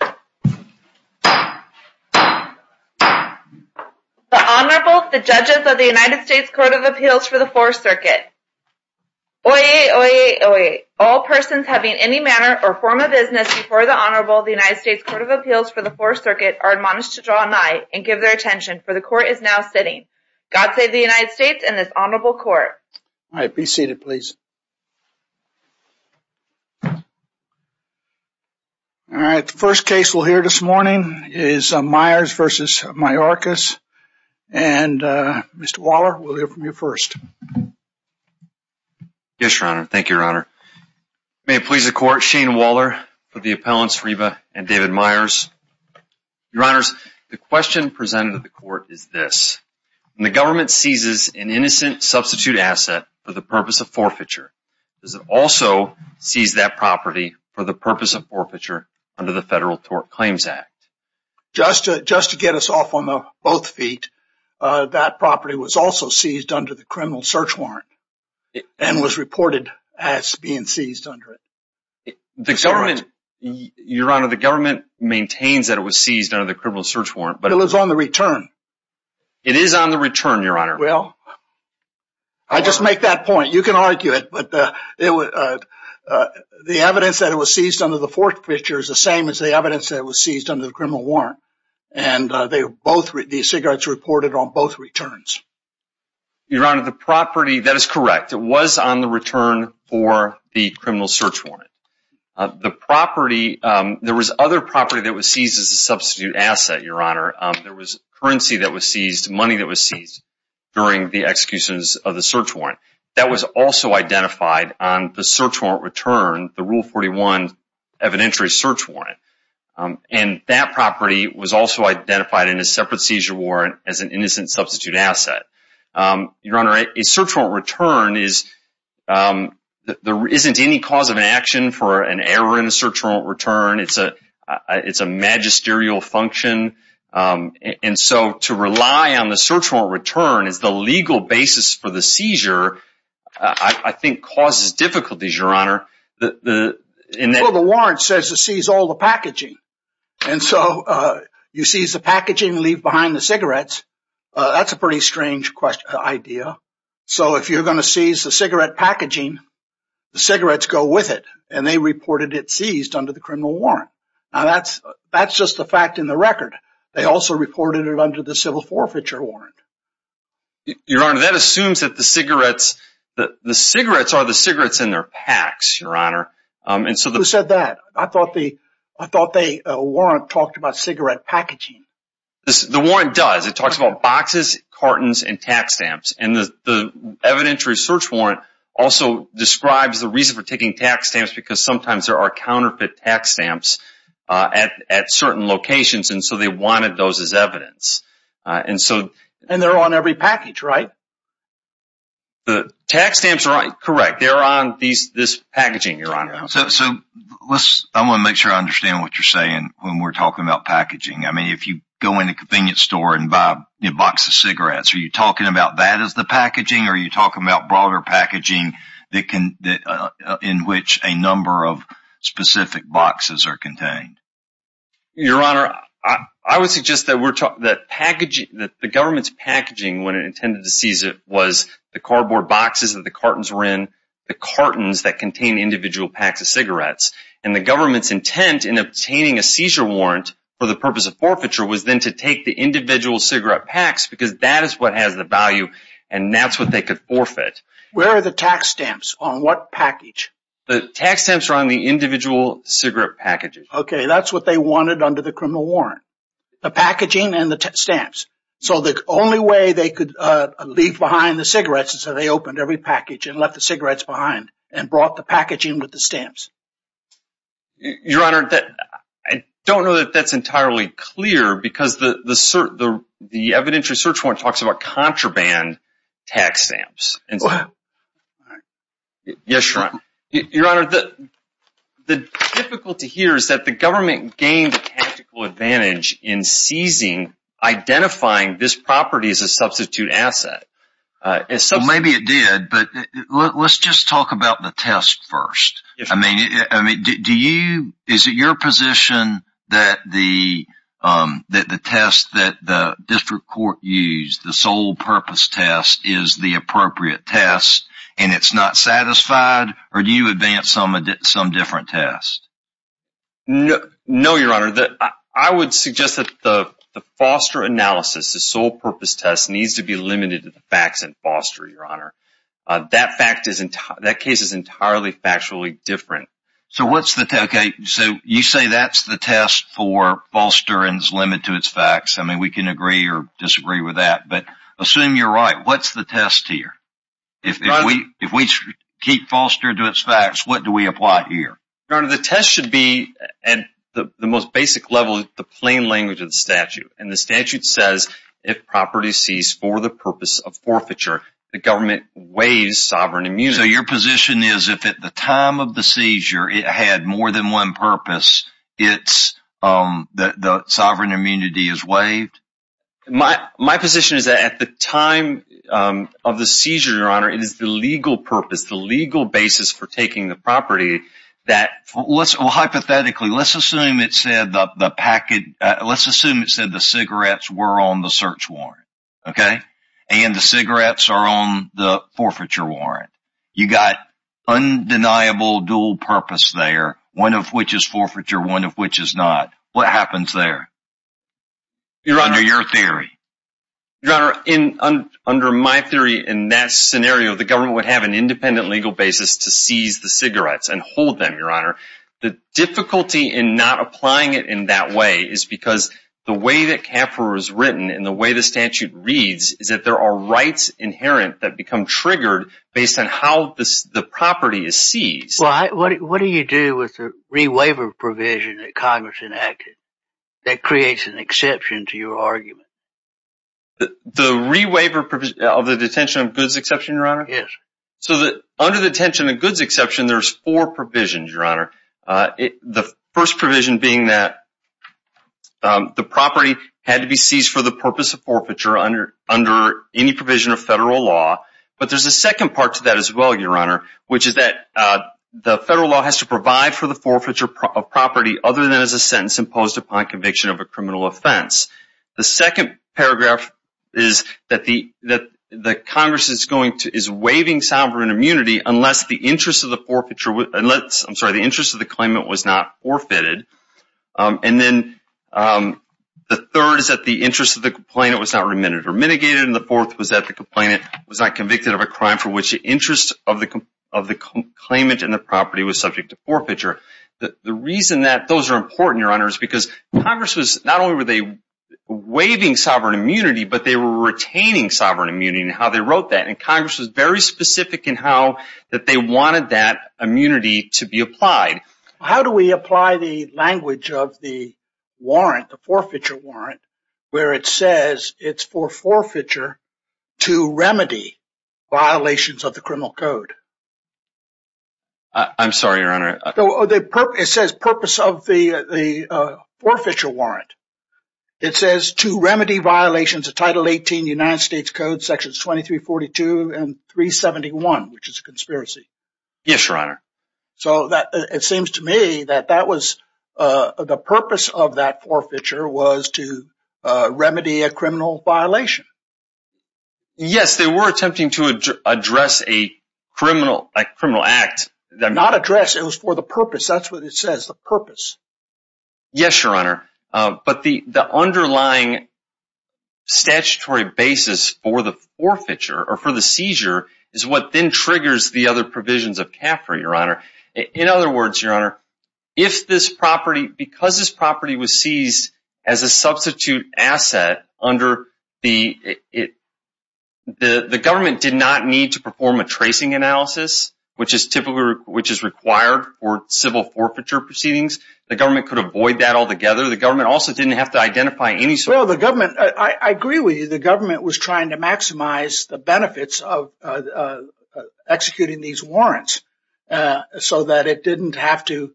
The Honorable, the Judges of the United States Court of Appeals for the Fourth Circuit. Oye, oye, oye. All persons having any manner or form of business before the Honorable of the United States Court of Appeals for the Fourth Circuit are admonished to draw an eye and give their attention, for the Court is now sitting. God save the United States and this Honorable Court. All right. Be seated, please. All right. The first case we'll hear this morning is Myers v. Mayorkas. And Mr. Waller, we'll hear from you first. Yes, Your Honor. Thank you, Your Honor. May it please the Court, Shane Waller for the appellants Reba and David Myers. Your Honors, the question presented to the Court is this. When the government seizes an innocent substitute asset for the purpose of forfeiture, does it also seize that property for the purpose of forfeiture under the Federal Tort Claims Act? Just to get us off on both feet, that property was also seized under the criminal search warrant and was reported as being seized under it. Your Honor, the government maintains that it was seized under the criminal search warrant. But it was on the return. It is on the return, Your Honor. Well, I just make that point. You can argue it, but the evidence that it was seized under the forfeiture is the same as the evidence that it was seized under the criminal warrant. And the cigarettes were reported on both returns. Your Honor, the property, that is correct. It was on the return for the criminal search warrant. The property, there was other property that was seized as a substitute asset, Your Honor. There was currency that was seized, money that was seized during the executions of the search warrant. That was also identified on the search warrant return, the Rule 41 evidentiary search warrant. And that property was also identified in a separate seizure warrant as an innocent substitute asset. Your Honor, a search warrant return is, there isn't any cause of action for an error in a search warrant return. It's a magisterial function. And so to rely on the search warrant return as the legal basis for the seizure, I think, causes difficulties, Your Honor. Well, the warrant says to seize all the packaging. And so you seize the packaging and leave behind the cigarettes. That's a pretty strange idea. So if you're going to seize the cigarette packaging, the cigarettes go with it. And they reported it seized under the criminal warrant. Now, that's just a fact in the record. They also reported it under the civil forfeiture warrant. Your Honor, that assumes that the cigarettes are the cigarettes in their packs, Your Honor. Who said that? I thought the warrant talked about cigarette packaging. The warrant does. It talks about boxes, cartons, and tax stamps. And the evidentiary search warrant also describes the reason for taking tax stamps because sometimes there are counterfeit tax stamps at certain locations. And so they wanted those as evidence. And they're on every package, right? The tax stamps are correct. They're on this packaging, Your Honor. So I want to make sure I understand what you're saying when we're talking about packaging. I mean, if you go into a convenience store and buy a box of cigarettes, are you talking about that as the packaging? Or are you talking about broader packaging in which a number of specific boxes are contained? Your Honor, I would suggest that the government's packaging when it intended to seize it was the cardboard boxes that the cartons were in, the cartons that contain individual packs of cigarettes. And the government's intent in obtaining a seizure warrant for the purpose of forfeiture was then to take the individual cigarette packs because that is what has the value, and that's what they could forfeit. Where are the tax stamps? On what package? The tax stamps are on the individual cigarette packages. Okay. That's what they wanted under the criminal warrant, the packaging and the stamps. So the only way they could leave behind the cigarettes is that they opened every package and left the cigarettes behind and brought the packaging with the stamps. Your Honor, I don't know that that's entirely clear because the evidentiary search warrant talks about contraband tax stamps. Wow. Yes, Your Honor. Your Honor, the difficulty here is that the government gained a tactical advantage in seizing, identifying this property as a substitute asset. Maybe it did, but let's just talk about the test first. Is it your position that the test that the district court used, the sole-purpose test, is the appropriate test and it's not satisfied? Or do you advance some different test? No, Your Honor. I would suggest that the foster analysis, the sole-purpose test, needs to be limited to the facts and foster, Your Honor. That case is entirely factually different. So what's the test? Okay, so you say that's the test for foster and is limited to its facts. I mean, we can agree or disagree with that, but assume you're right. What's the test here? If we keep foster to its facts, what do we apply here? Your Honor, the test should be, at the most basic level, the plain language of the statute. And the statute says, if property seized for the purpose of forfeiture, the government waives sovereign immunity. So your position is if at the time of the seizure it had more than one purpose, the sovereign immunity is waived? My position is that at the time of the seizure, Your Honor, it is the legal purpose, the legal basis for taking the property. Well, hypothetically, let's assume it said the cigarettes were on the search warrant, okay? And the cigarettes are on the forfeiture warrant. You've got undeniable dual purpose there, one of which is forfeiture, one of which is not. What happens there, under your theory? Your Honor, under my theory, in that scenario, the government would have an independent legal basis to seize the cigarettes and hold them, Your Honor. The difficulty in not applying it in that way is because the way that CAFR is written and the way the statute reads is that there are rights inherent that become triggered based on how the property is seized. Well, what do you do with the rewaiver provision that Congress enacted that creates an exception to your argument? The rewaiver provision of the detention of goods exception, Your Honor? Yes. So under the detention of goods exception, there's four provisions, Your Honor. The first provision being that the property had to be seized for the purpose of forfeiture under any provision of federal law. But there's a second part to that as well, Your Honor, which is that the federal law has to provide for the forfeiture of property other than as a sentence imposed upon conviction of a criminal offense. The second paragraph is that Congress is waiving sovereign immunity unless the interest of the claimant was not forfeited. And then the third is that the interest of the complainant was not remitted or mitigated. And the fourth was that the complainant was not convicted of a crime for which the interest of the claimant and the property was subject to forfeiture. The reason that those are important, Your Honor, is because Congress was not only were they waiving sovereign immunity, but they were retaining sovereign immunity in how they wrote that. And Congress was very specific in how that they wanted that immunity to be applied. How do we apply the language of the warrant, the forfeiture warrant, where it says it's for forfeiture to remedy violations of the criminal code? I'm sorry, Your Honor. It says purpose of the forfeiture warrant. It says to remedy violations of Title 18 United States Code Sections 2342 and 371, which is a conspiracy. Yes, Your Honor. So it seems to me that that was the purpose of that forfeiture was to remedy a criminal violation. Yes, they were attempting to address a criminal act. Not address, it was for the purpose. That's what it says, the purpose. Yes, Your Honor. But the underlying statutory basis for the forfeiture or for the seizure is what then triggers the other provisions of CAFRA, Your Honor. In other words, Your Honor, if this property, because this property was seized as a substitute asset under the it. The government did not need to perform a tracing analysis, which is typically which is required for civil forfeiture proceedings. The government could avoid that altogether. The government also didn't have to identify any. I agree with you. The government was trying to maximize the benefits of executing these warrants so that it didn't have to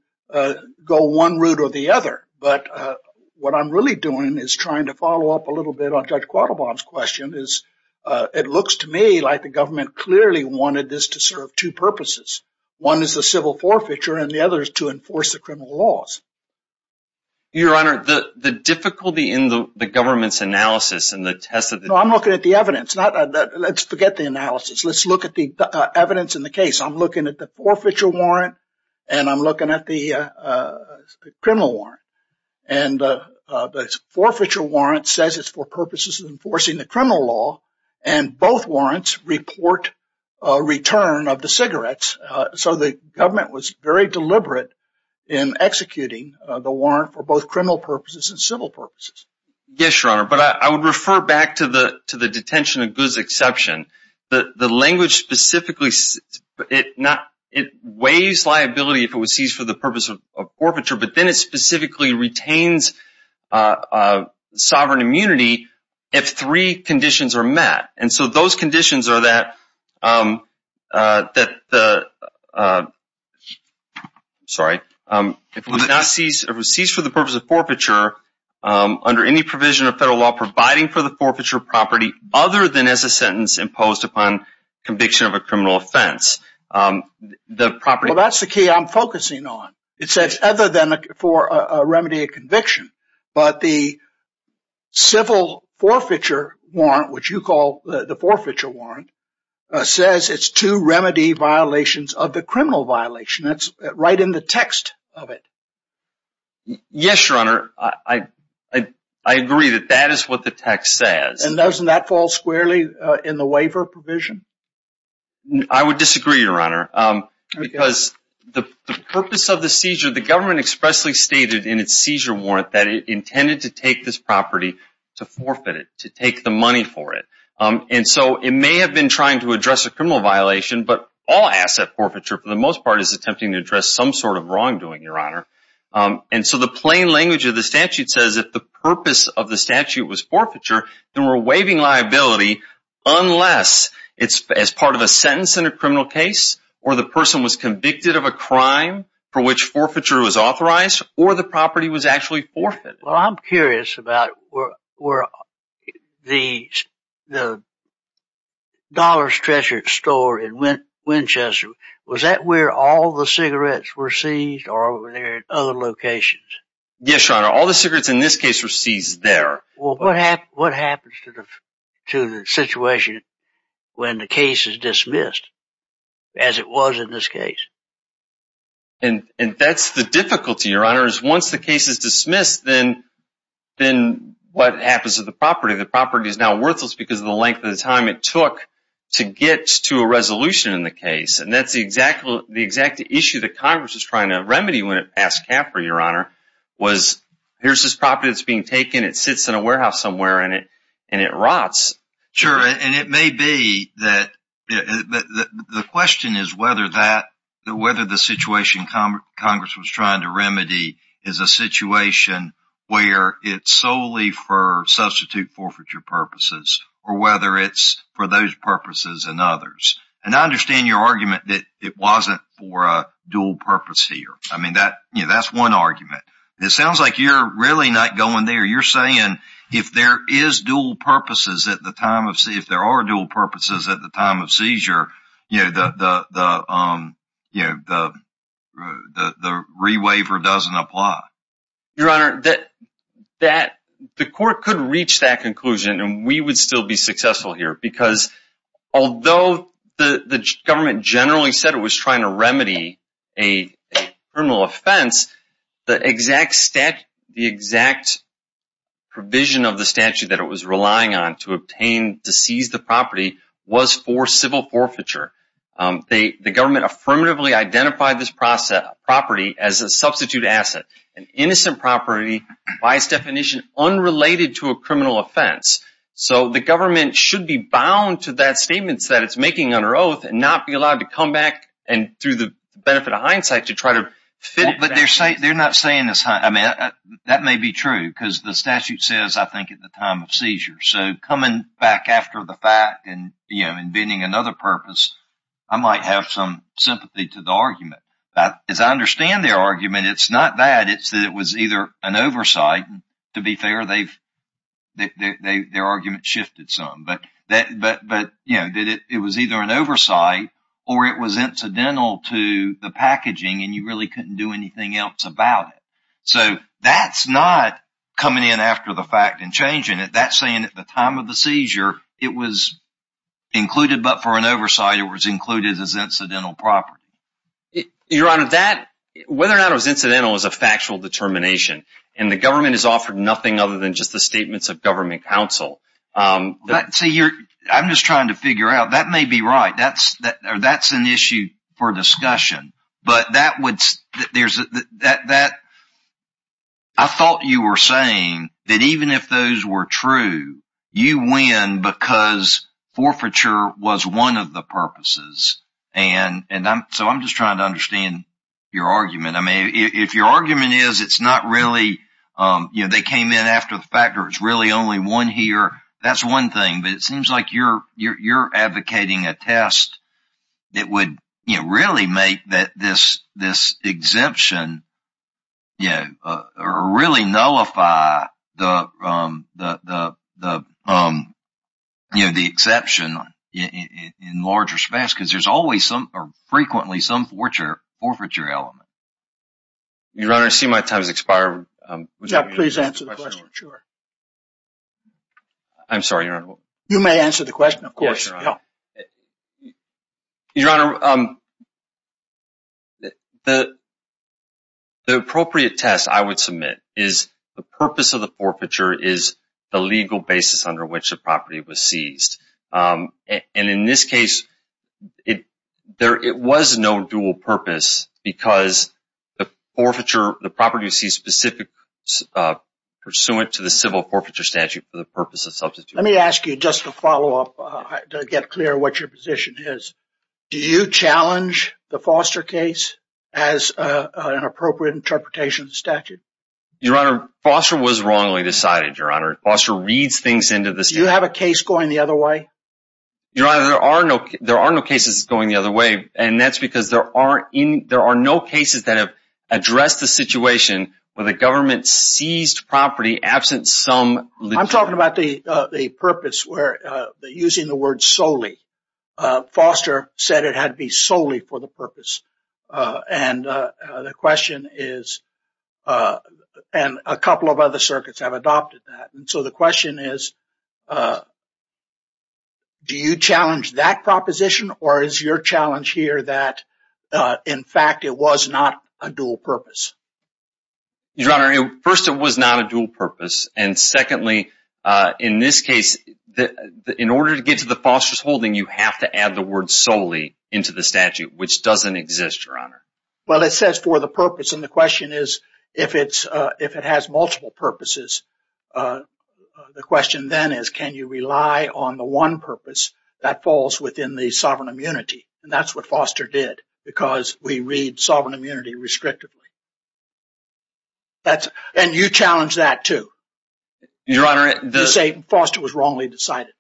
go one route or the other. But what I'm really doing is trying to follow up a little bit on Judge Quattlebaum's question. It looks to me like the government clearly wanted this to serve two purposes. One is the civil forfeiture and the other is to enforce the criminal laws. Your Honor, the difficulty in the government's analysis and the test. I'm looking at the evidence. Let's forget the analysis. Let's look at the evidence in the case. I'm looking at the forfeiture warrant and I'm looking at the criminal warrant. And the forfeiture warrant says it's for purposes of enforcing the criminal law. And both warrants report a return of the cigarettes. So the government was very deliberate in executing the warrant for both criminal purposes and civil purposes. Yes, Your Honor. But I would refer back to the detention of goods exception. The language specifically, it weighs liability if it was seized for the purpose of forfeiture. But then it specifically retains sovereign immunity if three conditions are met. And so those conditions are that if it was seized for the purpose of forfeiture under any provision of federal law providing for the forfeiture property other than as a sentence imposed upon conviction of a criminal offense. Well, that's the key I'm focusing on. It says other than for a remedy of conviction. But the civil forfeiture warrant, which you call the forfeiture warrant, says it's two remedy violations of the criminal violation. That's right in the text of it. Yes, Your Honor. I agree that that is what the text says. And doesn't that fall squarely in the waiver provision? I would disagree, Your Honor. Because the purpose of the seizure, the government expressly stated in its seizure warrant that it intended to take this property to forfeit it, to take the money for it. And so it may have been trying to address a criminal violation, but all asset forfeiture for the most part is attempting to address some sort of wrongdoing, Your Honor. And so the plain language of the statute says if the purpose of the statute was forfeiture, then we're waiving liability unless it's as part of a sentence in a criminal case or the person was convicted of a crime for which forfeiture was authorized or the property was actually forfeited. Well, I'm curious about where the Dollar's Treasure store in Winchester, was that where all the cigarettes were seized or were they in other locations? Yes, Your Honor. All the cigarettes in this case were seized there. Well, what happens to the situation when the case is dismissed as it was in this case? And that's the difficulty, Your Honor, is once the case is dismissed, then what happens to the property? The property is now worthless because of the length of time it took to get to a resolution in the case. And that's the exact issue that Congress was trying to remedy when it passed CAFRA, Your Honor, was here's this property that's being taken, it sits in a warehouse somewhere, and it rots. Sure. And it may be that the question is whether the situation Congress was trying to remedy is a situation where it's solely for substitute forfeiture purposes or whether it's for those purposes and others. And I understand your argument that it wasn't for a dual purpose here. I mean, that's one argument. It sounds like you're really not going there. You're saying if there are dual purposes at the time of seizure, the rewaiver doesn't apply. Your Honor, the court could reach that conclusion and we would still be successful here because although the government generally said it was trying to remedy a criminal offense, the exact provision of the statute that it was relying on to obtain to seize the property was for civil forfeiture. The government affirmatively identified this property as a substitute asset, an innocent property by its definition unrelated to a criminal offense. So the government should be bound to that statement that it's making under oath and not be allowed to come back and through the benefit of hindsight to try to fit it. They're not saying this. I mean, that may be true because the statute says, I think, at the time of seizure. So coming back after the fact and inventing another purpose, I might have some sympathy to the argument. As I understand their argument, it's not that. It's that it was either an oversight. To be fair, their argument shifted some. But it was either an oversight or it was incidental to the packaging and you really couldn't do anything else about it. So that's not coming in after the fact and changing it. That's saying at the time of the seizure, it was included. But for an oversight, it was included as incidental property. Your Honor, that whether or not it was incidental is a factual determination. And the government has offered nothing other than just the statements of government counsel. I'm just trying to figure out. That may be right. That's an issue for discussion. But I thought you were saying that even if those were true, you win because forfeiture was one of the purposes. And so I'm just trying to understand your argument. I mean, if your argument is it's not really, you know, they came in after the fact or it's really only one here, that's one thing. But it seems like you're you're you're advocating a test that would really make that this this exemption, you know, really nullify the the the, you know, the exception in large respects, because there's always some or frequently some forfeiture element. Your Honor, I see my time has expired. Yeah, please answer the question. I'm sorry, Your Honor. You may answer the question, of course. Your Honor, the appropriate test I would submit is the purpose of the forfeiture is the legal basis under which the property was seized. And in this case, it there it was no dual purpose because the forfeiture, the property sees specific pursuant to the civil forfeiture statute for the purpose of substitute. Let me ask you just to follow up to get clear what your position is. Do you challenge the Foster case as an appropriate interpretation of statute? Your Honor, Foster was wrongly decided, Your Honor. Foster reads things into this. You have a case going the other way. Your Honor, there are no there are no cases going the other way. And that's because there are in there are no cases that have addressed the situation where the government seized property absent some. I'm talking about the the purpose where using the word solely. Foster said it had to be solely for the purpose. And the question is, and a couple of other circuits have adopted that. And so the question is. Do you challenge that proposition or is your challenge here that, in fact, it was not a dual purpose? Your Honor, first, it was not a dual purpose. And secondly, in this case, in order to get to the Foster's holding, you have to add the word solely into the statute, which doesn't exist. Your Honor. Well, it says for the purpose. And the question is, if it's if it has multiple purposes, the question then is, can you rely on the one purpose that falls within the sovereign immunity? And that's what Foster did, because we read sovereign immunity restrictively. That's and you challenge that to your honor. The same Foster was wrongly decided.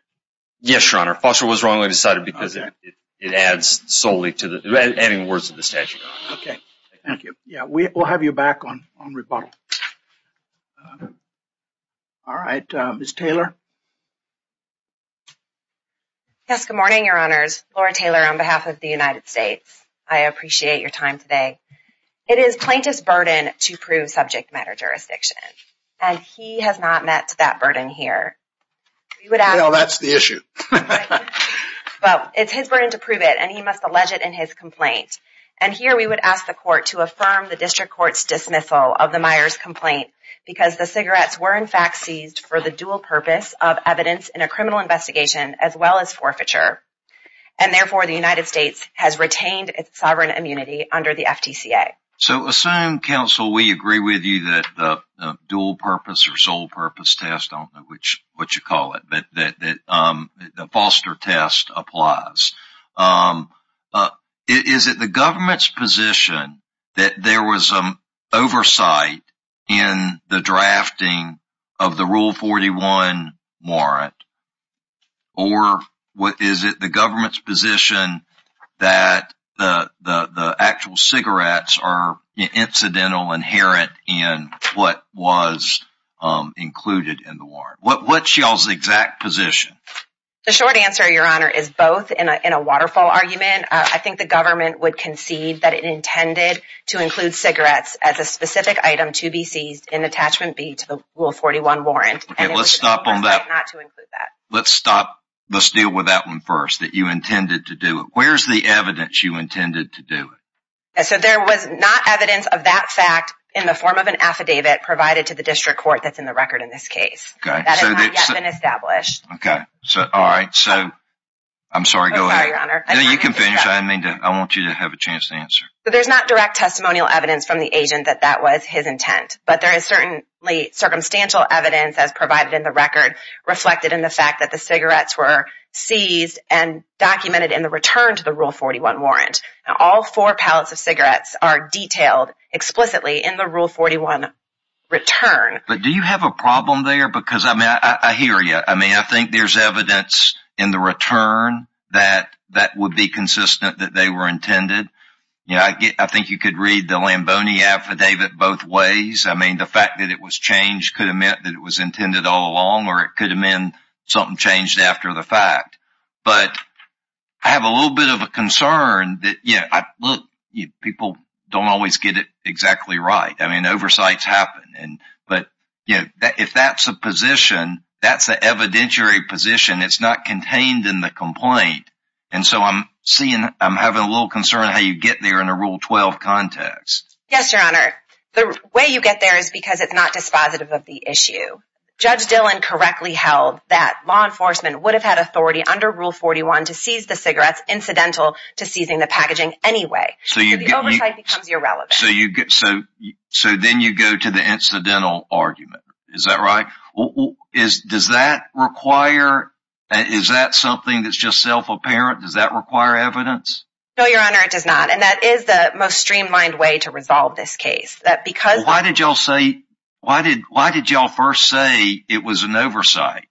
Yes, Your Honor. Foster was wrongly decided because it adds solely to the words of the statute. OK, thank you. Yeah, we will have you back on on rebuttal. All right. Miss Taylor. Yes. Good morning, Your Honors. Laura Taylor on behalf of the United States. I appreciate your time today. It is plaintiff's burden to prove subject matter jurisdiction. And he has not met that burden here. Well, that's the issue. Well, it's his burden to prove it, and he must allege it in his complaint. And here we would ask the court to affirm the district court's dismissal of the Myers complaint because the cigarettes were, in fact, seized for the dual purpose of evidence in a criminal investigation as well as forfeiture. And therefore, the United States has retained its sovereign immunity under the FTCA. So assume, counsel, we agree with you that the dual purpose or sole purpose test on which what you call it, that the foster test applies. Is it the government's position that there was some oversight in the drafting of the Rule 41 warrant? Or is it the government's position that the actual cigarettes are incidental, inherent in what was included in the warrant? What's y'all's exact position? The short answer, Your Honor, is both. In a waterfall argument, I think the government would concede that it intended to include cigarettes as a specific item to be seized in attachment B to the Rule 41 warrant. Okay, let's stop on that. Let's deal with that one first, that you intended to do it. Where's the evidence you intended to do it? So there was not evidence of that fact in the form of an affidavit provided to the district court that's in the record in this case. Okay. That has not yet been established. All right. I'm sorry, go ahead. I'm sorry, Your Honor. No, you can finish. I want you to have a chance to answer. There's not direct testimonial evidence from the agent that that was his intent. But there is certainly circumstantial evidence, as provided in the record, reflected in the fact that the cigarettes were seized and documented in the return to the Rule 41 warrant. Now, all four pallets of cigarettes are detailed explicitly in the Rule 41 return. But do you have a problem there? Because, I mean, I hear you. I mean, I think there's evidence in the return that that would be consistent that they were intended. You know, I think you could read the Lamboni affidavit both ways. I mean, the fact that it was changed could have meant that it was intended all along, or it could have meant something changed after the fact. But I have a little bit of a concern that, you know, look, people don't always get it exactly right. I mean, oversights happen. But, you know, if that's the position, that's the evidentiary position. It's not contained in the complaint. And so I'm having a little concern how you get there in a Rule 12 context. Yes, Your Honor. The way you get there is because it's not dispositive of the issue. Judge Dillon correctly held that law enforcement would have had authority under Rule 41 to seize the cigarettes, incidental to seizing the packaging anyway. So the oversight becomes irrelevant. So then you go to the incidental argument. Is that right? Does that require – is that something that's just self-apparent? Does that require evidence? No, Your Honor, it does not. And that is the most streamlined way to resolve this case. Why did y'all first say it was an oversight?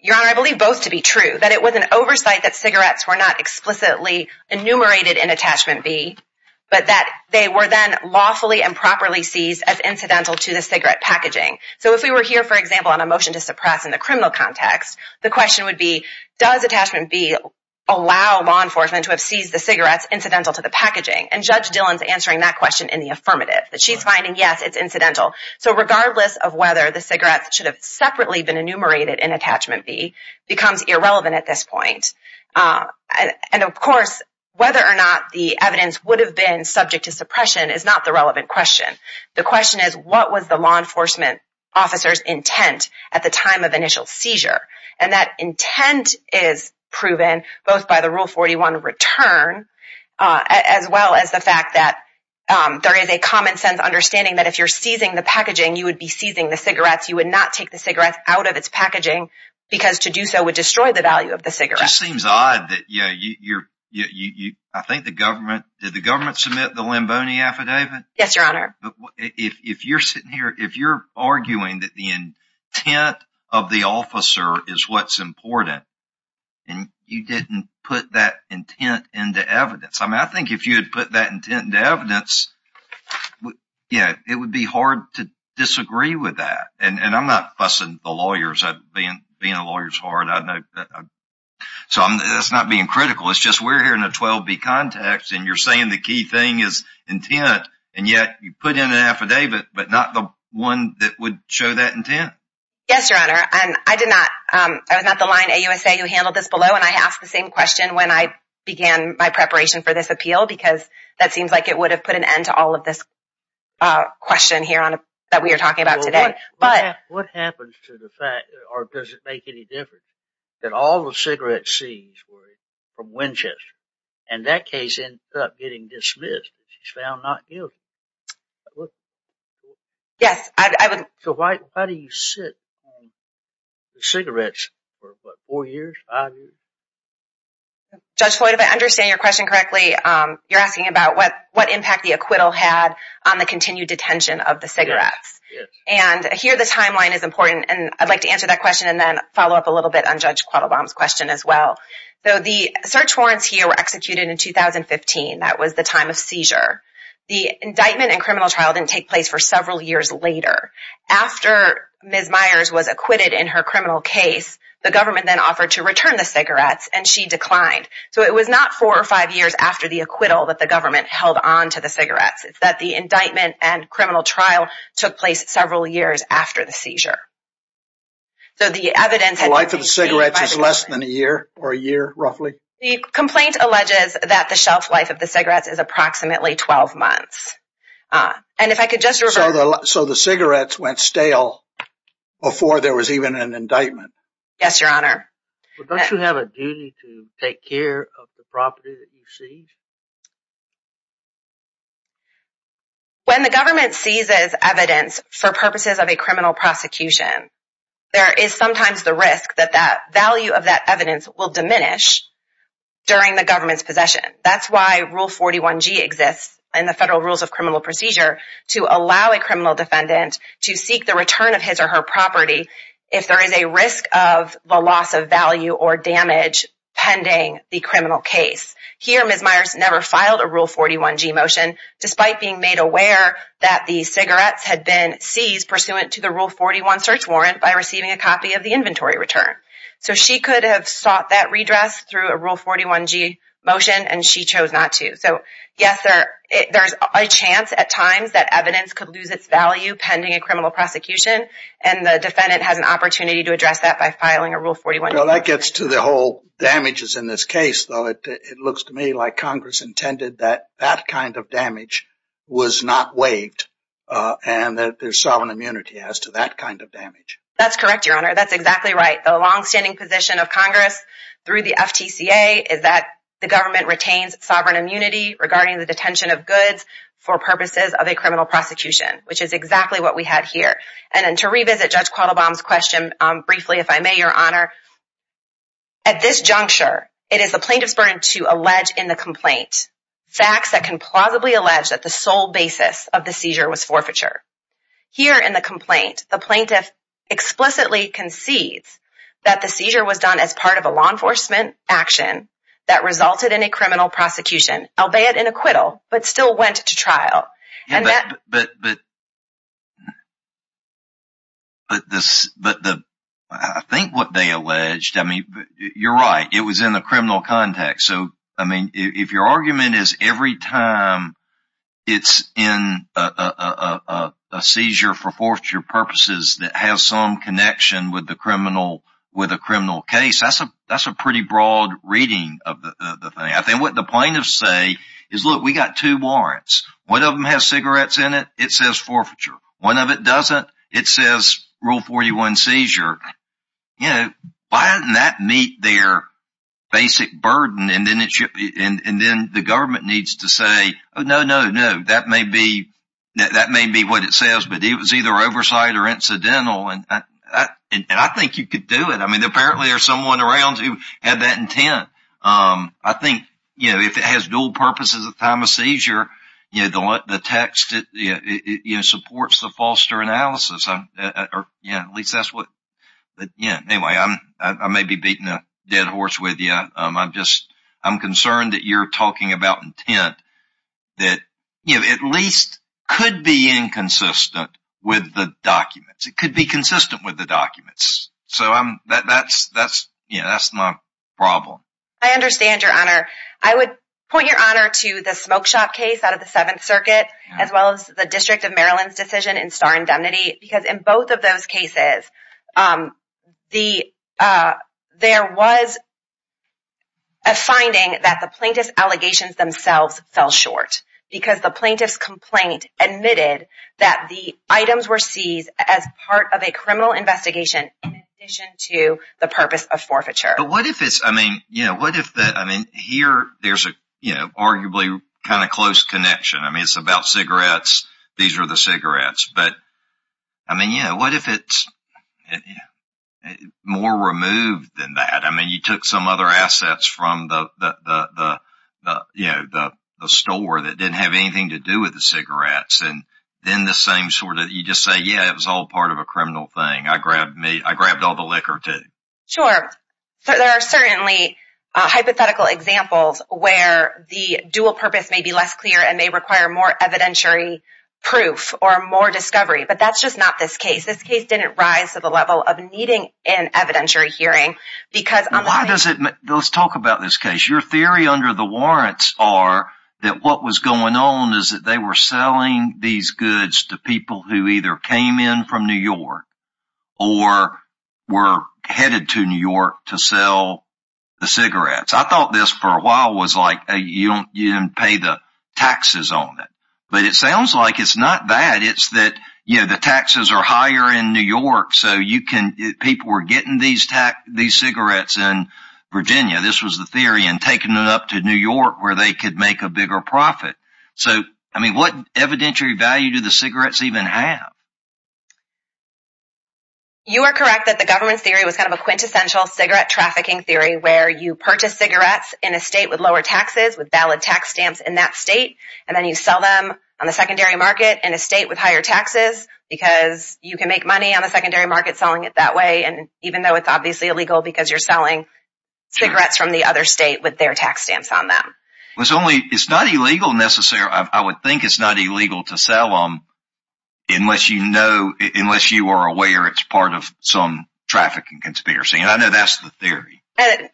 Your Honor, I believe both to be true. That it was an oversight that cigarettes were not explicitly enumerated in Attachment B, but that they were then lawfully and properly seized as incidental to the cigarette packaging. So if we were here, for example, on a motion to suppress in the criminal context, the question would be, does Attachment B allow law enforcement to have seized the cigarettes incidental to the packaging? And Judge Dillon's answering that question in the affirmative. She's finding, yes, it's incidental. So regardless of whether the cigarettes should have separately been enumerated in Attachment B becomes irrelevant at this point. And, of course, whether or not the evidence would have been subject to suppression is not the relevant question. The question is, what was the law enforcement officer's intent at the time of initial seizure? And that intent is proven both by the Rule 41 return as well as the fact that there is a common sense understanding that if you're seizing the packaging, you would be seizing the cigarettes. You would not take the cigarettes out of its packaging because to do so would destroy the value of the cigarettes. It just seems odd that you're – I think the government – did the government submit the Limboni Affidavit? Yes, Your Honor. If you're sitting here, if you're arguing that the intent of the officer is what's important and you didn't put that intent into evidence, I mean, I think if you had put that intent into evidence, yeah, it would be hard to disagree with that. And I'm not fussing the lawyers. Being a lawyer is hard. So that's not being critical. It's just we're here in a 12B context, and you're saying the key thing is intent, and yet you put in an affidavit, but not the one that would show that intent. Yes, Your Honor. I did not – I was not the line AUSA who handled this below, and I asked the same question when I began my preparation for this appeal because that seems like it would have put an end to all of this question here that we are talking about today. What happens to the fact, or does it make any difference, that all the cigarette scenes were from Winchester, and that case ended up getting dismissed because she's found not guilty? Yes. So why do you sit on the cigarettes for, what, four years, five years? Judge Floyd, if I understand your question correctly, you're asking about what impact the acquittal had on the continued detention of the cigarettes. Yes. And here the timeline is important, and I'd like to answer that question and then follow up a little bit on Judge Quattlebaum's question as well. So the search warrants here were executed in 2015. That was the time of seizure. The indictment and criminal trial didn't take place for several years later. After Ms. Myers was acquitted in her criminal case, the government then offered to return the cigarettes, and she declined. So it was not four or five years after the acquittal that the government held on to the cigarettes. It's that the indictment and criminal trial took place several years after the seizure. So the evidence… The life of the cigarettes is less than a year or a year, roughly? The complaint alleges that the shelf life of the cigarettes is approximately 12 months. And if I could just refer… So the cigarettes went stale before there was even an indictment? Yes, Your Honor. But don't you have a duty to take care of the property that you seize? When the government seizes evidence for purposes of a criminal prosecution, there is sometimes the risk that that value of that evidence will diminish during the government's possession. That's why Rule 41G exists in the Federal Rules of Criminal Procedure to allow a criminal defendant to seek the return of his or her property if there is a risk of the loss of value or damage pending the criminal case. Here, Ms. Myers never filed a Rule 41G motion, despite being made aware that the cigarettes had been seized pursuant to the Rule 41 search warrant by receiving a copy of the inventory return. So she could have sought that redress through a Rule 41G motion, and she chose not to. So, yes, there's a chance at times that evidence could lose its value pending a criminal prosecution, and the defendant has an opportunity to address that by filing a Rule 41G motion. Well, that gets to the whole damages in this case, though. It looks to me like Congress intended that that kind of damage was not waived, and that there's sovereign immunity as to that kind of damage. That's correct, Your Honor. That's exactly right. The longstanding position of Congress through the FTCA is that the government retains sovereign immunity regarding the detention of goods for purposes of a criminal prosecution, which is exactly what we have here. And to revisit Judge Quattlebaum's question briefly, if I may, Your Honor, at this juncture, it is the plaintiff's burden to allege in the complaint facts that can plausibly allege that the sole basis of the seizure was forfeiture. Here in the complaint, the plaintiff explicitly concedes that the seizure was done as part of a law enforcement action that resulted in a criminal prosecution, but I think what they alleged, I mean, you're right. It was in the criminal context. I mean, if your argument is every time it's in a seizure for forfeiture purposes that has some connection with a criminal case, that's a pretty broad reading of the thing. I think what the plaintiffs say is, look, we've got two warrants. One of them has cigarettes in it. It says forfeiture. One of it doesn't. It says Rule 41 seizure. You know, why doesn't that meet their basic burden? And then the government needs to say, oh, no, no, no, that may be what it says, but it was either oversight or incidental, and I think you could do it. I mean, apparently there's someone around who had that intent. I think, you know, if it has dual purposes at the time of seizure, the text supports the foster analysis, or at least that's what. But, yeah, anyway, I may be beating a dead horse with you. I'm just I'm concerned that you're talking about intent that, you know, at least could be inconsistent with the documents. It could be consistent with the documents. So, yeah, that's my problem. I understand, Your Honor. I would point Your Honor to the smoke shop case out of the Seventh Circuit as well as the District of Maryland's decision in Star Indemnity because in both of those cases there was a finding that the plaintiff's allegations themselves fell short because the plaintiff's complaint admitted that the items were seized as part of a criminal investigation in addition to the purpose of forfeiture. But what if it's, I mean, you know, what if that, I mean, here there's a, you know, arguably kind of close connection. I mean, it's about cigarettes. These are the cigarettes. But, I mean, you know, what if it's more removed than that? I mean, you took some other assets from the, you know, the store that didn't have anything to do with the cigarettes and then the same sort of, you just say, yeah, it was all part of a criminal thing. I grabbed all the liquor too. Sure. There are certainly hypothetical examples where the dual purpose may be less clear and may require more evidentiary proof or more discovery. But that's just not this case. This case didn't rise to the level of needing an evidentiary hearing because on the Why does it, let's talk about this case. Your theory under the warrants are that what was going on is that they were selling these goods to people who either came in from New York or were headed to New York to sell the cigarettes. I thought this for a while was like you didn't pay the taxes on it. But it sounds like it's not that. It's that, you know, the taxes are higher in New York so you can, people were getting these cigarettes in Virginia. This was the theory and taking it up to New York where they could make a bigger profit. So, I mean, what evidentiary value do the cigarettes even have? You are correct that the government's theory was kind of a quintessential cigarette trafficking theory where you purchase cigarettes in a state with lower taxes, with valid tax stamps in that state, and then you sell them on the secondary market in a state with higher taxes because you can make money on the secondary market selling it that way and even though it's obviously illegal because you're selling cigarettes from the other state with their tax stamps on them. It's only, it's not illegal necessarily, I would think it's not illegal to sell them unless you know, unless you are aware it's part of some trafficking conspiracy. And I know that's the theory.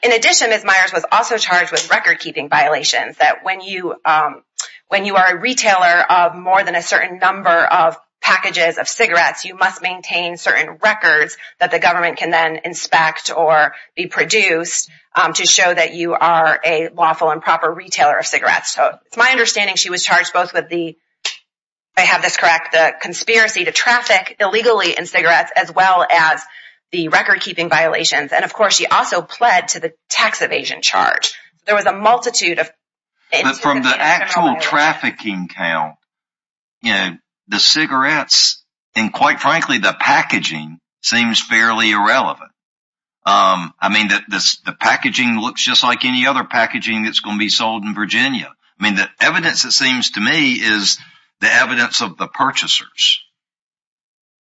In addition, Ms. Myers was also charged with record keeping violations that when you are a retailer of more than a certain number of packages of cigarettes, you must maintain certain records that the government can then inspect or be produced to show that you are a lawful and proper retailer of cigarettes. So, it's my understanding she was charged both with the, if I have this correct, the conspiracy to traffic illegally in cigarettes as well as the record keeping violations. And of course, she also pled to the tax evasion charge. There was a multitude of... But from the actual trafficking count, you know, the cigarettes and quite frankly, the packaging seems fairly irrelevant. I mean, the packaging looks just like any other packaging that's going to be sold in Virginia. I mean, the evidence it seems to me is the evidence of the purchasers.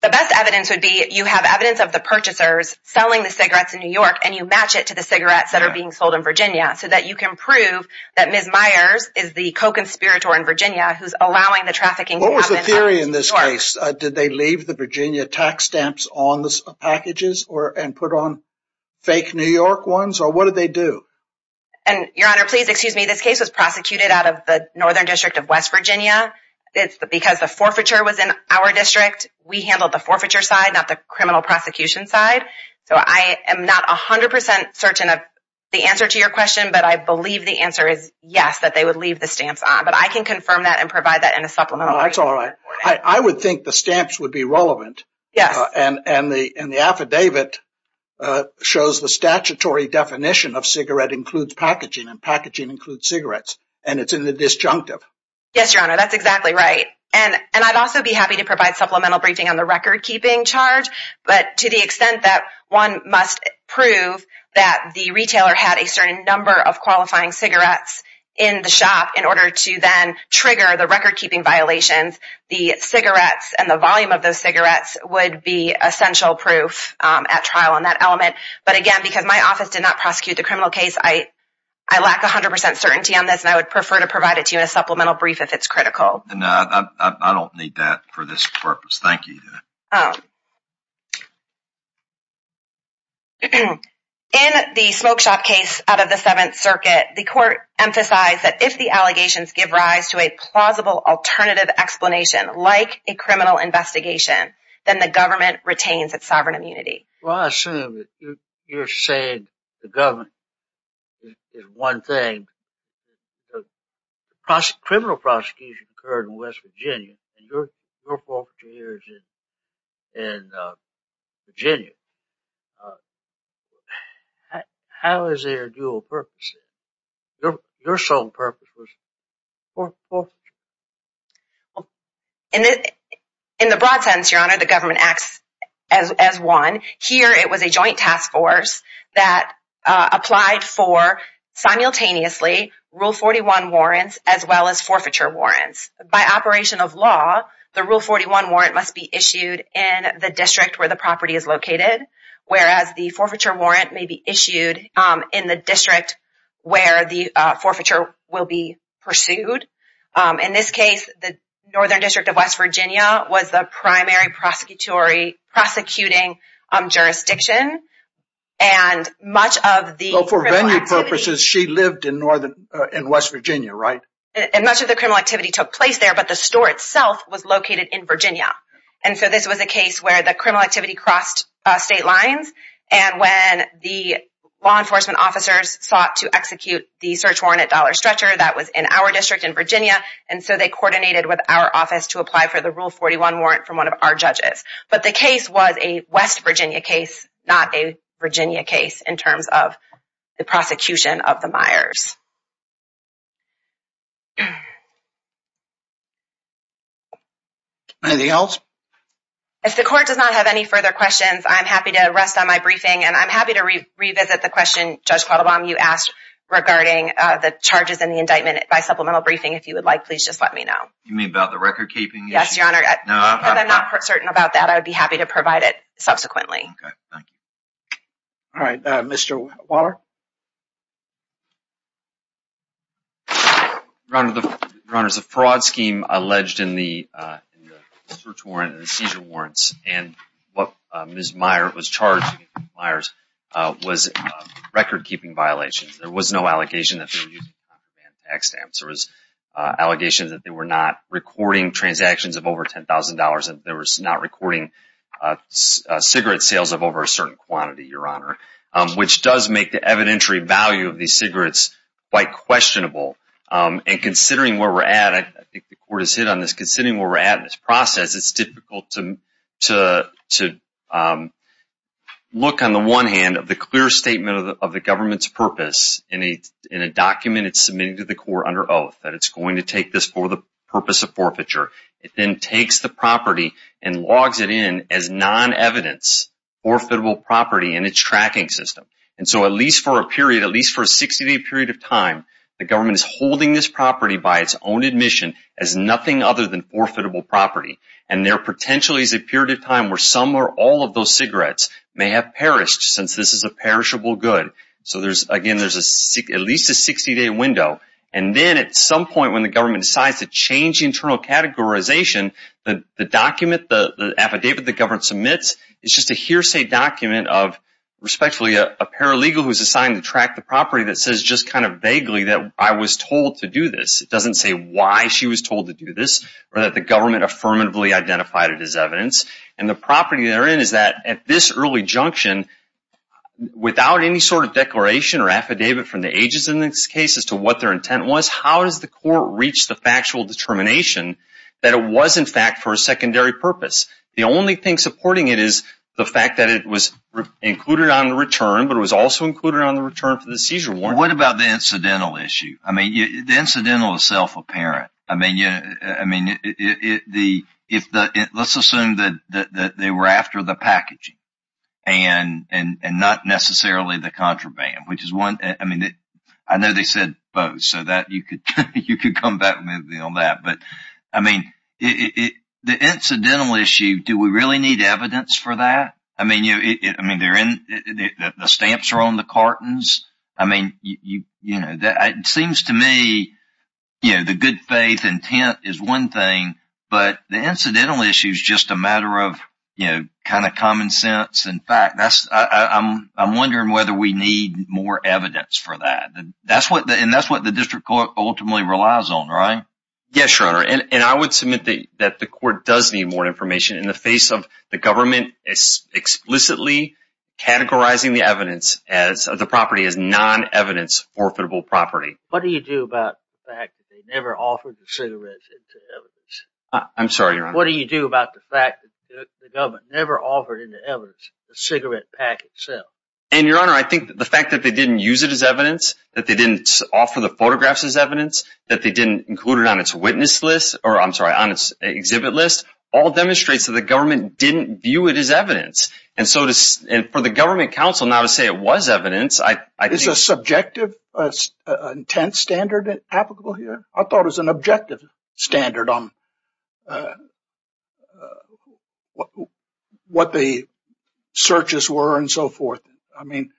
The best evidence would be you have evidence of the purchasers selling the cigarettes in New York and you match it to the cigarettes that are being sold in Virginia so that you can prove that Ms. Myers is the co-conspirator in Virginia who's allowing the trafficking to happen in New York. What was the theory in this case? Did they leave the Virginia tax stamps on the packages and put on fake New York ones? Or what did they do? Your Honor, please excuse me. This case was prosecuted out of the Northern District of West Virginia. Because the forfeiture was in our district, we handled the forfeiture side, not the criminal prosecution side. So I am not 100% certain of the answer to your question, but I believe the answer is yes, that they would leave the stamps on. But I can confirm that and provide that in a supplemental. No, that's all right. I would think the stamps would be relevant. Yes. And the affidavit shows the statutory definition of cigarette includes packaging and packaging includes cigarettes. And it's in the disjunctive. Yes, Your Honor, that's exactly right. And I'd also be happy to provide supplemental briefing on the record-keeping charge. But to the extent that one must prove that the retailer had a certain number of qualifying cigarettes in the shop in order to then trigger the record-keeping violations, the cigarettes and the volume of those cigarettes would be essential proof at trial on that element. But, again, because my office did not prosecute the criminal case, I lack 100% certainty on this, and I would prefer to provide it to you in a supplemental brief if it's critical. No, I don't need that for this purpose. Thank you. In the smoke shop case out of the Seventh Circuit, the court emphasized that if the allegations give rise to a plausible alternative explanation like a criminal investigation, then the government retains its sovereign immunity. Well, I assume that you're saying the government is one thing. The criminal prosecution occurred in West Virginia, and your forfeiture here is in Virginia. How is there dual purposes? Your sole purpose was forfeiture. In the broad sense, Your Honor, the government acts as one. Here it was a joint task force that applied for simultaneously Rule 41 warrants as well as forfeiture warrants. By operation of law, the Rule 41 warrant must be issued in the district where the property is located, whereas the forfeiture warrant may be issued in the district where the forfeiture will be pursued. In this case, the Northern District of West Virginia was the primary prosecuting jurisdiction. For venue purposes, she lived in West Virginia, right? And much of the criminal activity took place there, but the store itself was located in Virginia. And so this was a case where the criminal activity crossed state lines, and when the law enforcement officers sought to execute the search warrant at Dollar Stretcher, that was in our district in Virginia, and so they coordinated with our office to apply for the Rule 41 warrant from one of our judges. But the case was a West Virginia case, not a Virginia case, in terms of the prosecution of the Myers. Anything else? If the court does not have any further questions, I'm happy to rest on my briefing, and I'm happy to revisit the question, Judge Quattlebaum, you asked regarding the charges in the indictment by supplemental briefing. If you would like, please just let me know. You mean about the record-keeping issue? Yes, Your Honor. No, I'm not. I'm not certain about that. I would be happy to provide it subsequently. Okay. Thank you. All right. Mr. Waller? Your Honor, there's a fraud scheme alleged in the search warrant and the seizure warrants, and what Ms. Myers was charged with was record-keeping violations. There was no allegation that they were using non-demand tax stamps. There was allegations that they were not recording transactions of over $10,000 and they were not recording cigarette sales of over a certain quantity, Your Honor, which does make the evidentiary value of these cigarettes quite questionable. And considering where we're at, I think the court has hit on this, considering where we're at in this process, it's difficult to look on the one hand of the clear statement of the government's purpose in a document it's submitting to the court under oath, that it's going to take this for the purpose of forfeiture. It then takes the property and logs it in as non-evidence, forfeitable property in its tracking system. And so at least for a period, at least for a 60-day period of time, the government is holding this property by its own admission as nothing other than forfeitable property. And there potentially is a period of time where some or all of those cigarettes may have perished since this is a perishable good. So again, there's at least a 60-day window. And then at some point when the government decides to change internal categorization, the document, the affidavit the government submits is just a hearsay document of respectfully a paralegal who's assigned to track the property that says just kind of vaguely that I was told to do this. It doesn't say why she was told to do this or that the government affirmatively identified it as evidence. And the property therein is that at this early junction, without any sort of declaration or affidavit from the agents in this case as to what their intent was, how does the court reach the factual determination that it was in fact for a secondary purpose? The only thing supporting it is the fact that it was included on the return, but it was also included on the return for the seizure warrant. What about the incidental issue? The incidental is self-apparent. Let's assume that they were after the packaging and not necessarily the contraband. I know they said both, so you could come back with me on that. But the incidental issue, do we really need evidence for that? The stamps are on the cartons. It seems to me the good faith intent is one thing, but the incidental issue is just a matter of common sense and fact. I'm wondering whether we need more evidence for that. And that's what the district court ultimately relies on, right? Yes, Your Honor, and I would submit that the court does need more information in the face of the government explicitly categorizing the property as non-evidence forfeitable property. What do you do about the fact that they never offered the cigarettes as evidence? I'm sorry, Your Honor. What do you do about the fact that the government never offered any evidence of the cigarette pack itself? And, Your Honor, I think the fact that they didn't use it as evidence, that they didn't offer the photographs as evidence, that they didn't include it on its witness list, or I'm sorry, on its exhibit list all demonstrates that the government didn't view it as evidence. And so for the government counsel now to say it was evidence, I think… Is a subjective intent standard applicable here? I thought it was an objective standard on what the searches were and so forth. I mean,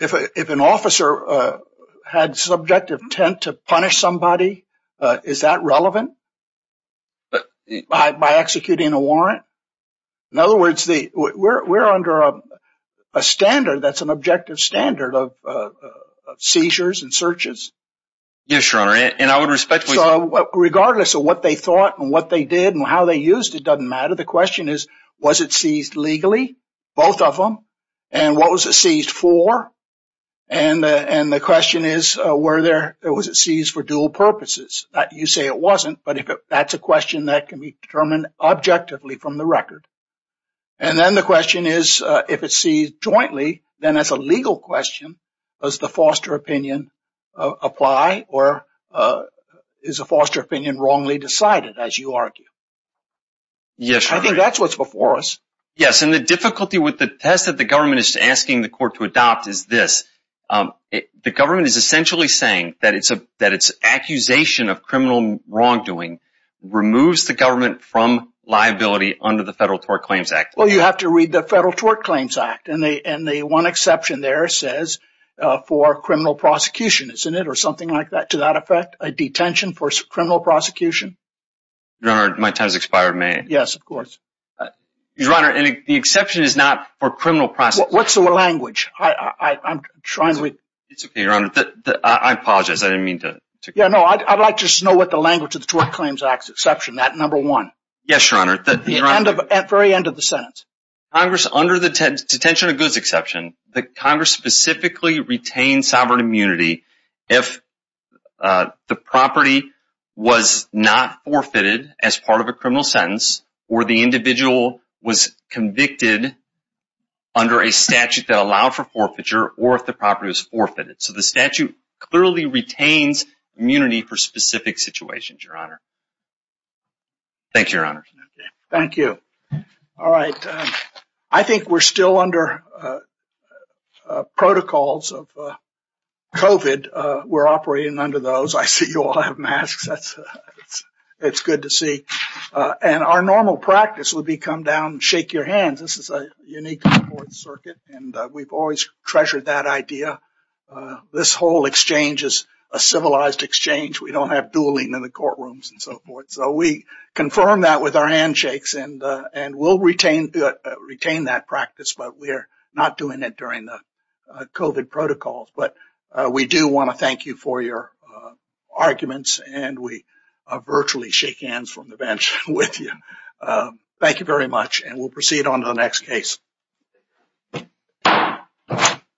if an officer had subjective intent to punish somebody, is that relevant by executing a warrant? In other words, we're under a standard that's an objective standard of seizures and searches? Yes, Your Honor, and I would respectfully say… Regardless of what they thought and what they did and how they used it, it doesn't matter. The question is, was it seized legally, both of them, and what was it seized for? And the question is, was it seized for dual purposes? You say it wasn't, but if that's a question that can be determined objectively from the record. And then the question is, if it's seized jointly, then as a legal question, does the foster opinion apply or is the foster opinion wrongly decided, as you argue? Yes. I think that's what's before us. Yes, and the difficulty with the test that the government is asking the court to adopt is this. The government is essentially saying that its accusation of criminal wrongdoing removes the government from liability under the Federal Tort Claims Act. Well, you have to read the Federal Tort Claims Act, and the one exception there says for criminal prosecution, isn't it, or something like that, to that effect, a detention for criminal prosecution? Your Honor, my time has expired. May I? Yes, of course. Your Honor, the exception is not for criminal prosecution. What's the language? I'm trying to… It's okay, Your Honor. I apologize. I didn't mean to… Yeah, no. I'd like to know what the language of the Tort Claims Act's exception, that number one. Yes, Your Honor. At the very end of the sentence. Congress, under the detention of goods exception, the Congress specifically retains sovereign immunity if the property was not forfeited as part of a criminal sentence or the individual was convicted under a statute that allowed for forfeiture or if the property was forfeited. So the statute clearly retains immunity for specific situations, Your Honor. Thank you, Your Honor. Thank you. All right. I think we're still under protocols of COVID. We're operating under those. I see you all have masks. It's good to see. And our normal practice would be come down and shake your hands. This is a unique court circuit, and we've always treasured that idea. This whole exchange is a civilized exchange. We don't have dueling in the courtrooms and so forth. So we confirm that with our handshakes and we'll retain that practice, but we're not doing it during the COVID protocols. But we do want to thank you for your arguments, and we virtually shake hands from the bench with you. Thank you very much, and we'll proceed on to the next case.